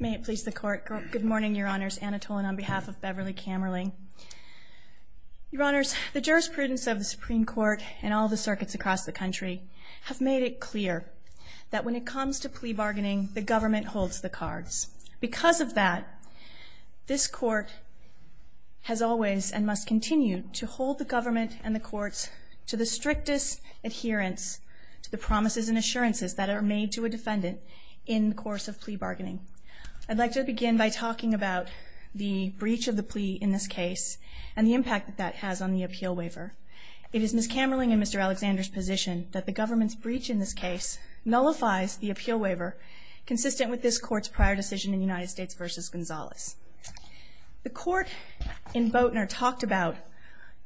May it please the Court. Good morning, Your Honors. Anna Tolan on behalf of Beverly Camerly. Your Honors, the jurisprudence of the Supreme Court and all the circuits across the country have made it clear that when it comes to plea bargaining, the government holds the cards. Because of that, this Court has always and must continue to hold the government and the courts to the strictest adherence to the promises and assurances that are made to a defendant in the course of plea bargaining. I'd like to begin by talking about the breach of the plea in this case and the impact that that has on the appeal waiver. It is Ms. Camerly and Mr. Alexander's position that the government's breach in this case nullifies the appeal waiver consistent with this Court's prior decision in United States v. Gonzalez. The Court in Boatner talked about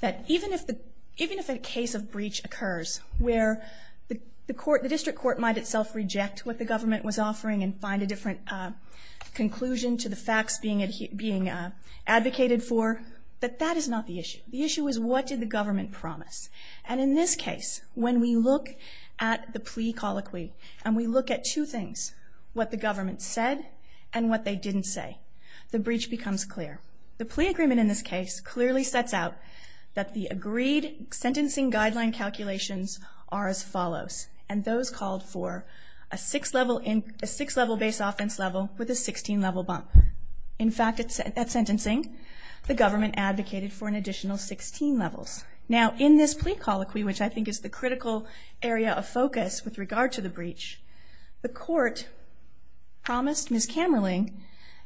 that even if a case of breach occurs where the District Court might itself reject what the government was offering and find a different conclusion to the facts being advocated for, that that is not the issue. The issue is what did the government promise. And in this case, when we look at the plea colloquy and we look at two things, what the government said and what they didn't say, the breach becomes clear. The plea agreement in this case clearly sets out that the agreed sentencing guideline calculations are as follows, and those called for a 6-level base offense level with a 16-level bump. In fact, at sentencing, the government advocated for an additional 16 levels. Now, in this plea colloquy, which I think is the critical area of focus with regard to the breach, the Court promised Ms. Kammerling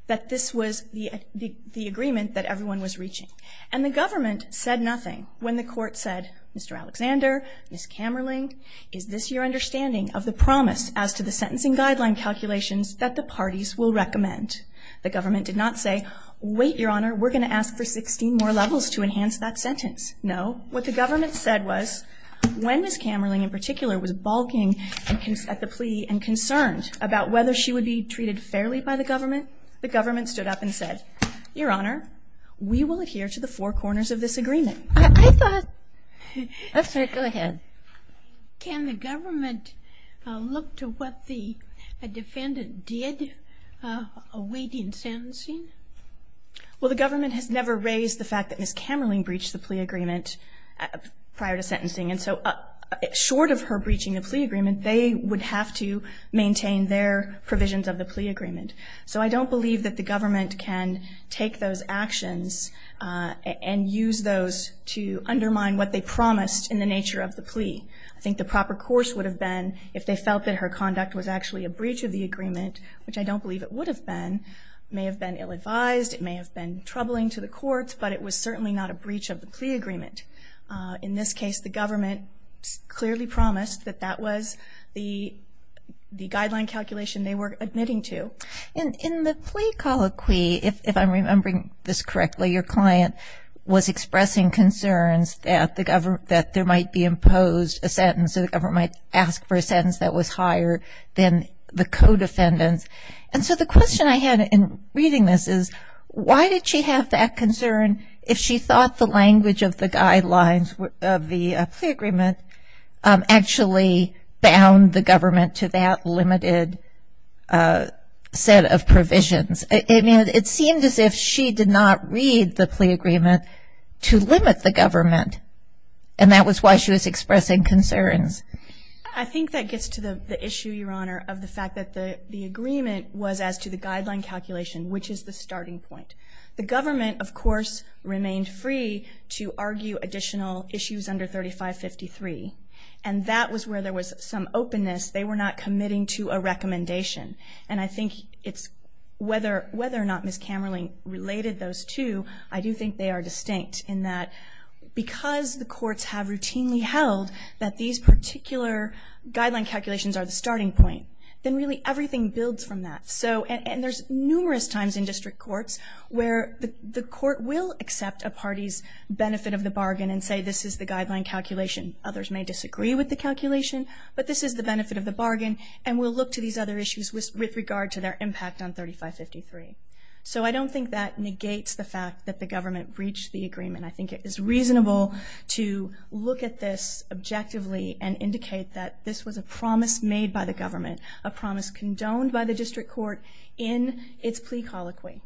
that this was the agreement that everyone was reaching. And the government said nothing when the Court said, Mr. Alexander, Ms. Kammerling, is this your understanding of the promise as to the sentencing guideline calculations that the parties will recommend? The government did not say, wait, Your Honor, we're going to ask for 16 more levels to enhance that sentence. No. What the government said was, when Ms. Kammerling in particular was balking at the plea and concerned about whether she would be treated fairly by the government, the government stood up and said, Your Honor, we will adhere to the four corners of this agreement. I thought... Go ahead. Can the government look to what the defendant did awaiting sentencing? Well, the government has never raised the fact that Ms. Kammerling breached the plea agreement prior to sentencing, and so short of her breaching the plea agreement, they would have to maintain their provisions of the plea agreement. So I don't believe that the government can take those actions and use those to undermine what they promised in the nature of the plea. I think the proper course would have been if they felt that her conduct was actually a breach of the agreement, which I don't believe it would have been, may have been ill-advised, it may have been troubling to the courts, but it was certainly not a breach of the plea agreement. In this case, the government clearly promised that that was the guideline calculation they were admitting to. And in the plea colloquy, if I'm remembering this correctly, your client was expressing concerns that there might be imposed a sentence or the government might ask for a sentence that was higher than the co-defendant's. And so the question I had in reading this is, why did she have that concern if she thought the language of the guidelines of the plea agreement actually bound the government to that limited set of provisions? It seemed as if she did not read the plea agreement to limit the government, and that was why she was expressing concerns. I think that gets to the issue, Your Honor, of the fact that the agreement was as to the guideline calculation, which is the starting point. The government, of course, remained free to argue additional issues under 3553, and that was where there was some openness. They were not committing to a recommendation. And I think it's whether or not Ms. Camerling related those two, I do think they are distinct in that because the courts have routinely held that these particular guideline calculations are the starting point, then really everything builds from that. And there's numerous times in district courts where the court will accept a party's benefit of the bargain and say this is the guideline calculation. Others may disagree with the calculation, but this is the benefit of the bargain, and we'll look to these other issues with regard to their impact on 3553. So I don't think that negates the fact that the government breached the agreement. I think it is reasonable to look at this objectively and indicate that this was a promise made by the government, a promise condoned by the district court in its plea colloquy.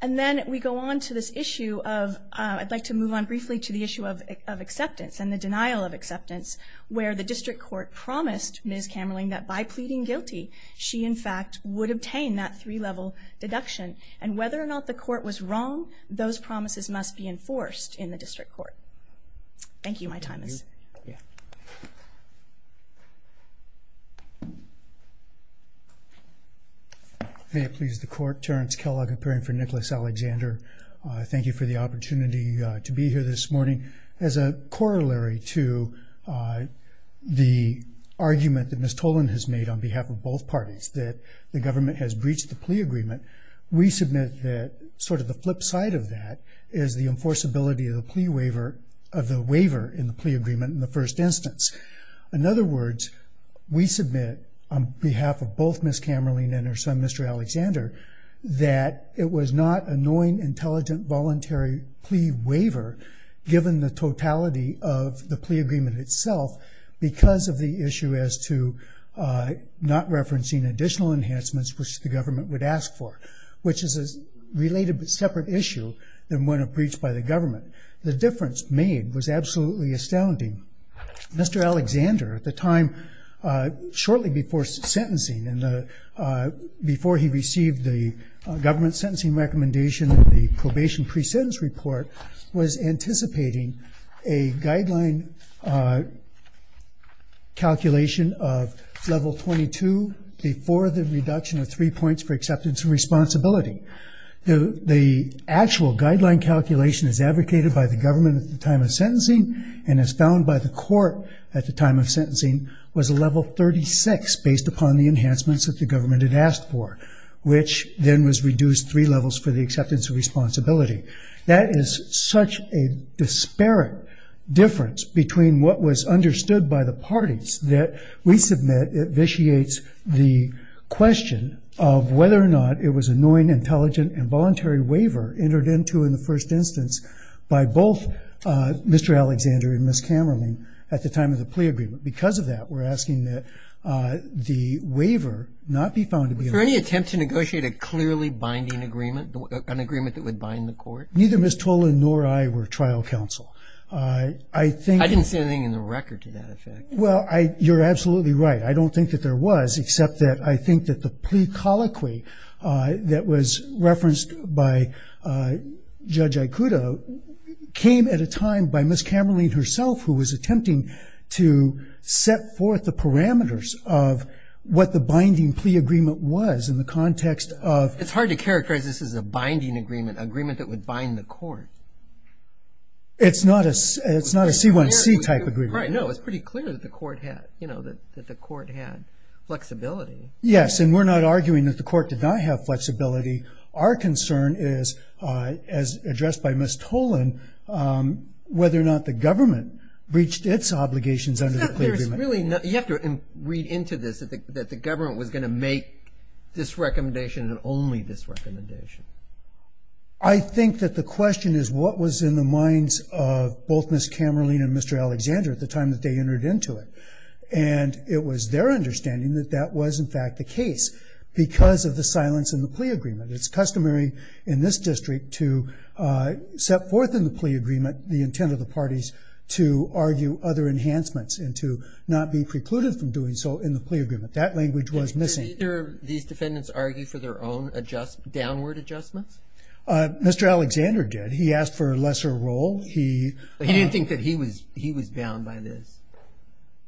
And then we go on to this issue of I'd like to move on briefly to the issue of acceptance and the denial of acceptance where the district court promised Ms. Camerling that by pleading guilty she, in fact, would obtain that three-level deduction. And whether or not the court was wrong, those promises must be enforced in the district court. Thank you. My time is up. May it please the court. Terrence Kellogg, appearing for Nicholas Alexander. Thank you for the opportunity to be here this morning. As a corollary to the argument that Ms. Tolan has made on behalf of both parties that the government has breached the plea agreement, we submit that sort of the flip side of that is the enforceability of the waiver in the plea agreement in the first instance. In other words, we submit on behalf of both Ms. Camerling and her son, Mr. Alexander, that it was not a knowing, intelligent, voluntary plea waiver given the totality of the plea agreement itself because of the issue as to not referencing additional enhancements which the government would ask for, which is a related but separate issue than one breached by the government. The difference made was absolutely astounding. Mr. Alexander, at the time, shortly before sentencing, before he received the government sentencing recommendation and the probation pre-sentence report, was anticipating a guideline calculation of level 22 before the reduction of three points for acceptance and responsibility. The actual guideline calculation is advocated by the government at the time of sentencing and is found by the court at the time of sentencing was a level 36 based upon the enhancements that the government had asked for, which then was reduced three levels for the acceptance of responsibility. That is such a disparate difference between what was understood by the parties that we submit it vitiates the question of whether or not it was a knowing, intelligent, and voluntary waiver entered into in the first instance by both Mr. Alexander and Ms. Camerling at the time of the plea agreement. Because of that, we're asking that the waiver not be found to be a... Was there any attempt to negotiate a clearly binding agreement, an agreement that would bind the court? Neither Ms. Tolan nor I were trial counsel. I think... I didn't see anything in the record to that effect. Well, you're absolutely right. I don't think that there was except that I think that the plea colloquy that was referenced by Judge Ikuda came at a time by Ms. Camerling herself who was attempting to set forth the parameters of what the binding plea agreement was in the context of... It's hard to characterize this as a binding agreement, an agreement that would bind the court. It's not a C1C type agreement. No, it's pretty clear that the court had flexibility. Yes, and we're not arguing that the court did not have flexibility. Our concern is, as addressed by Ms. Tolan, whether or not the government reached its obligations under the plea agreement. You have to read into this that the government was going to make this recommendation and only this recommendation. I think that the question is what was in the minds of both Ms. Camerling and Mr. Alexander at the time that they entered into it. And it was their understanding that that was in fact the case because of the silence in the plea agreement. It's customary in this district to set forth in the plea agreement the intent of the parties to argue other enhancements and to not be precluded from doing so in the plea agreement. That language was missing. Did either of these defendants argue for their own downward adjustments? Mr. Alexander did. He asked for a lesser role. He didn't think that he was bound by this.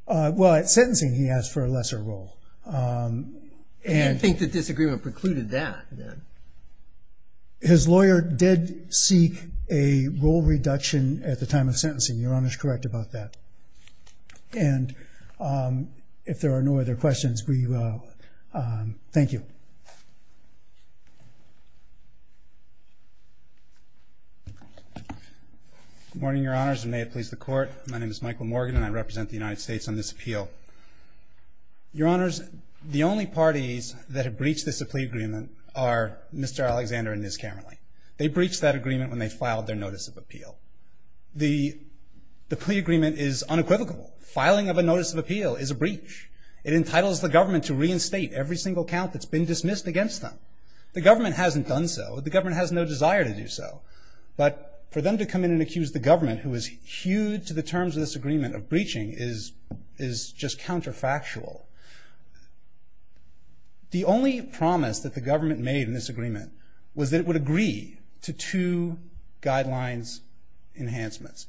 Well, at sentencing he asked for a lesser role. He didn't think the disagreement precluded that. His lawyer did seek a role reduction at the time of sentencing. Your Honor is correct about that. And if there are no other questions, we will. Thank you. Good morning, Your Honors, and may it please the Court. My name is Michael Morgan, and I represent the United States on this appeal. Your Honors, the only parties that have breached this plea agreement are Mr. Alexander and Ms. Camerling. They breached that agreement when they filed their notice of appeal. The plea agreement is unequivocal. Filing of a notice of appeal is a breach. It entitles the government to reinstate every single count that's been dismissed against them. The government hasn't done so. The government has no desire to do so. But for them to come in and accuse the government, who is hewed to the terms of this agreement of breaching, is just counterfactual. The only promise that the government made in this agreement was that it would agree to two guidelines enhancements.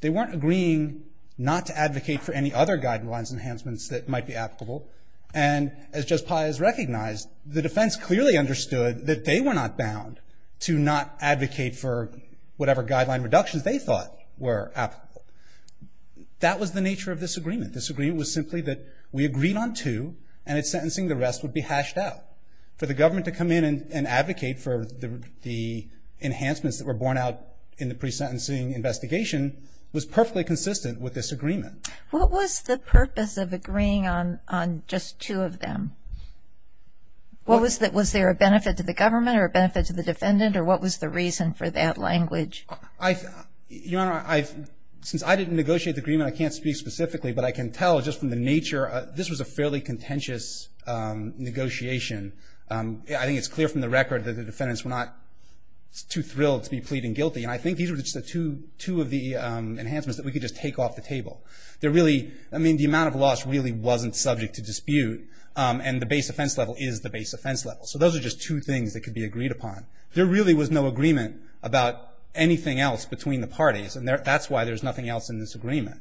They weren't agreeing not to advocate for any other guidelines enhancements that might be applicable. And as Judge Pius recognized, the defense clearly understood that they were not bound to not advocate for whatever guideline reductions they thought were applicable. That was the nature of this agreement. This agreement was simply that we agreed on two, and at sentencing the rest would be hashed out. For the government to come in and advocate for the enhancements that were borne out in the pre-sentencing investigation was perfectly consistent with this agreement. What was the purpose of agreeing on just two of them? Was there a benefit to the government or a benefit to the defendant, or what was the reason for that language? Your Honor, since I didn't negotiate the agreement, I can't speak specifically, but I can tell just from the nature, this was a fairly contentious negotiation. I think it's clear from the record that the defendants were not too thrilled to be pleading guilty. And I think these were just two of the enhancements that we could just take off the table. They're really, I mean, the amount of loss really wasn't subject to dispute, and the base offense level is the base offense level. So those are just two things that could be agreed upon. There really was no agreement about anything else between the parties, and that's why there's nothing else in this agreement.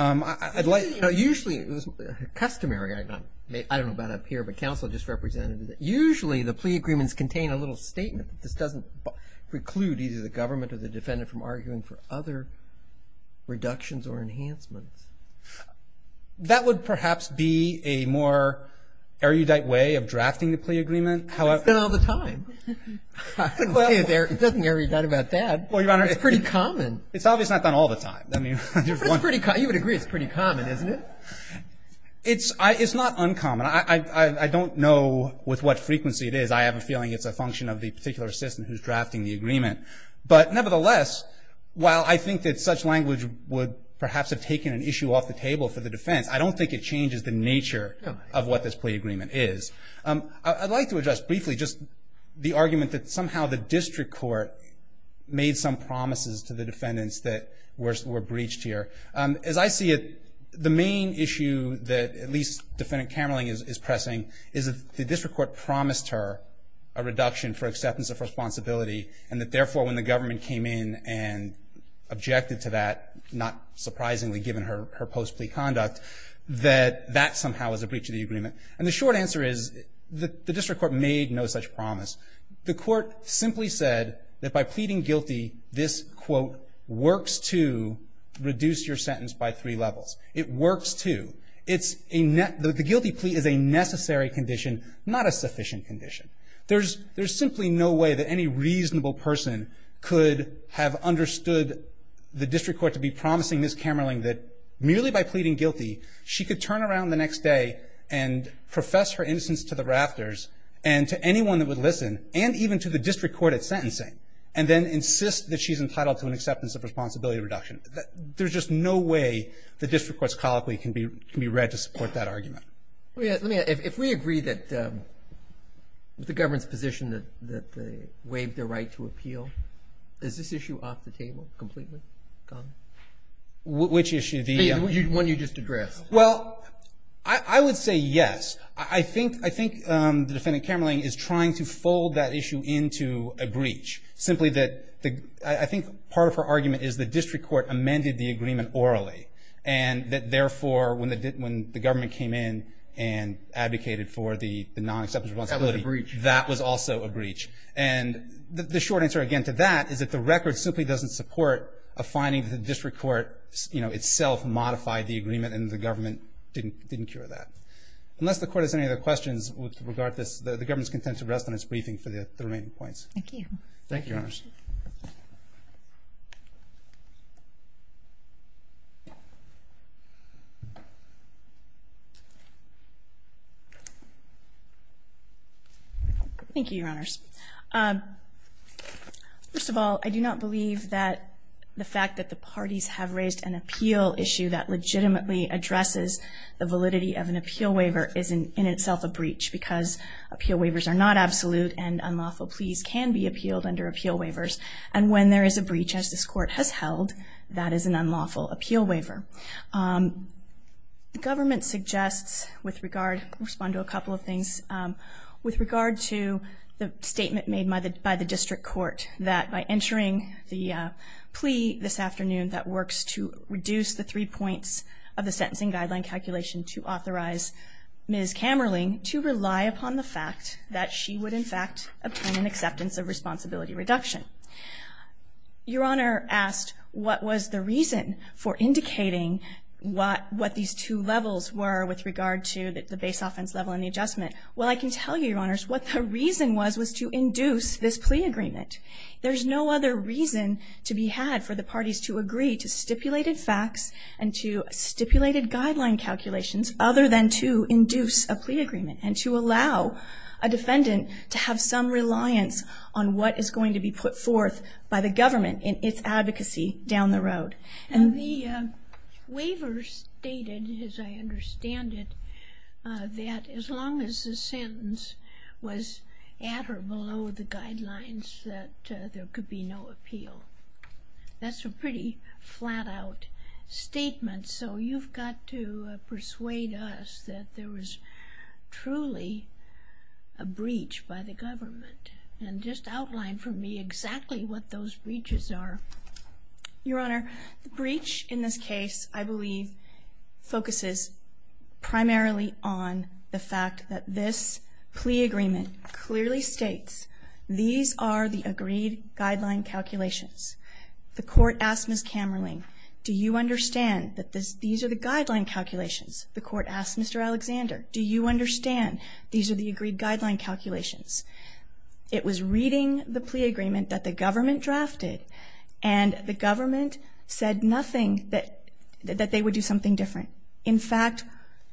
Usually, customary, I don't know about up here, but counsel just represented, usually the plea agreements contain a little statement. This doesn't preclude either the government or the defendant from arguing for other reductions or enhancements. That would perhaps be a more erudite way of drafting the plea agreement. It's done all the time. It doesn't get erudite about that. Well, Your Honor. It's pretty common. It's obviously not done all the time. You would agree it's pretty common, isn't it? It's not uncommon. I don't know with what frequency it is. I have a feeling it's a function of the particular assistant who's drafting the agreement. But nevertheless, while I think that such language would perhaps have taken an issue off the table for the defense, I don't think it changes the nature of what this plea agreement is. I'd like to address briefly just the argument that somehow the district court made some promises to the defendants that were breached here. As I see it, the main issue that at least Defendant Camerling is pressing is that the district court promised her a reduction for acceptance of responsibility and that, therefore, when the government came in and objected to that, not surprisingly given her post-plea conduct, that that somehow was a breach of the agreement. And the short answer is the district court made no such promise. The court simply said that by pleading guilty, this, quote, works to reduce your sentence by three levels. It works to. The guilty plea is a necessary condition, not a sufficient condition. There's simply no way that any reasonable person could have understood the district court to be promising Ms. Camerling that merely by pleading guilty, she could turn around the next day and profess her innocence to the rafters and to anyone that would listen, and even to the district court at sentencing, and then insist that she's entitled to an acceptance of responsibility reduction. There's just no way the district court's colloquy can be read to support that argument. Let me ask. If we agree that the government's position that they waived their right to appeal, is this issue off the table completely? Which issue? The one you just addressed. Well, I would say yes. I think the defendant, Camerling, is trying to fold that issue into a breach, simply that I think part of her argument is the district court amended the agreement orally, and that therefore when the government came in and advocated for the non-acceptance of responsibility, that was also a breach. And the short answer, again, to that is that the record simply doesn't support a finding that the district court, you know, itself modified the agreement and the government didn't cure that. Unless the court has any other questions with regard to this, the government is content to rest on its briefing for the remaining points. Thank you. Thank you, Your Honors. Thank you, Your Honors. First of all, I do not believe that the fact that the parties have raised an appeal issue that legitimately addresses the validity of an appeal waiver is in itself a breach because appeal waivers are not absolute and unlawful pleas can be appealed under appeal waivers. And when there is a breach, as this court has held, that is an unlawful appeal waiver. The government suggests with regard, respond to a couple of things, with regard to the statement made by the district court that by entering the plea this afternoon that works to reduce the three points of the sentencing guideline calculation to authorize Ms. Kammerling to rely upon the fact that she would, in fact, obtain an acceptance of responsibility reduction. Your Honor asked what was the reason for indicating what these two levels were with regard to the base offense level and the adjustment. Well, I can tell you, Your Honors, what the reason was was to induce this plea agreement. There's no other reason to be had for the parties to agree to stipulated facts and to stipulated guideline calculations other than to induce a plea agreement and to allow a defendant to have some reliance on what is going to be put forth by the government in its advocacy down the road. And the waiver stated, as I understand it, that as long as the sentence was at or below the guidelines that there could be no appeal. That's a pretty flat-out statement. So you've got to persuade us that there was truly a breach by the government. And just outline for me exactly what those breaches are. Your Honor, the breach in this case, I believe, focuses primarily on the fact that this plea agreement clearly states these are the agreed guideline calculations. The court asked Ms. Kammerling, do you understand that these are the guideline calculations? The court asked Mr. Alexander, do you understand these are the agreed guideline calculations? It was reading the plea agreement that the government drafted and the government said nothing that they would do something different. In fact,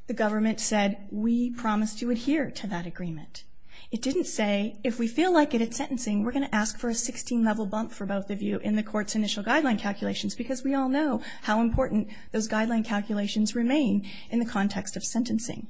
the government said, we promise to adhere to that agreement. It didn't say, if we feel like it at sentencing, we're going to ask for a 16-level bump for both of you in the court's initial guideline calculations because we all know how important those guideline calculations remain in the context of sentencing.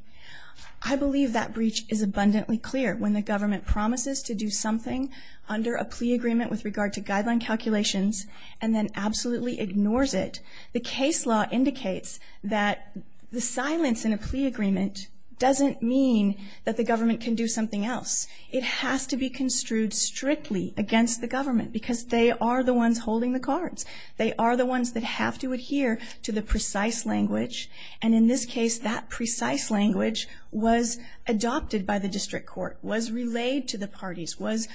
I believe that breach is abundantly clear when the government promises to do something under a plea agreement with regard to guideline calculations and then absolutely ignores it. The case law indicates that the silence in a plea agreement doesn't mean that the government can do something else. It has to be construed strictly against the government because they are the ones holding the cards. They are the ones that have to adhere to the precise language. And in this case, that precise language was adopted by the district court, was relayed to the parties, was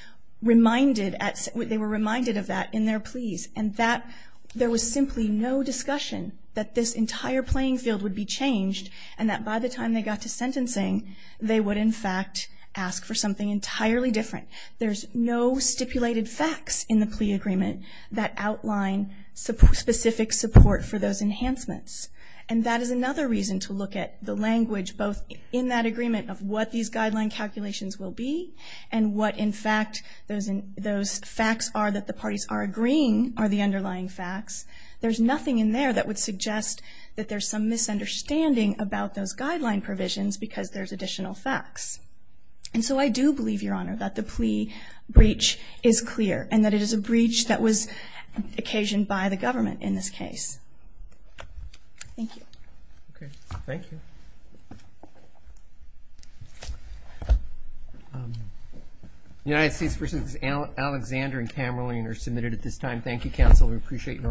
reminded, they were reminded of that in their pleas, and that there was simply no discussion that this entire playing field would be changed and that by the time they got to sentencing, they would in fact ask for something entirely different. There's no stipulated facts in the plea agreement that outline specific support for those enhancements. And that is another reason to look at the language both in that agreement of what these guideline calculations will be and what in fact those facts are that the parties are agreeing are the underlying facts. There's nothing in there that would suggest that there's some misunderstanding about those guideline provisions because there's additional facts. And so I do believe, Your Honor, that the plea breach is clear and that it is a breach that was occasioned by the government in this case. Thank you. Okay. Thank you. The United States v. Alexander and Kamerlian are submitted at this time. Thank you, counsel. We appreciate your arguments.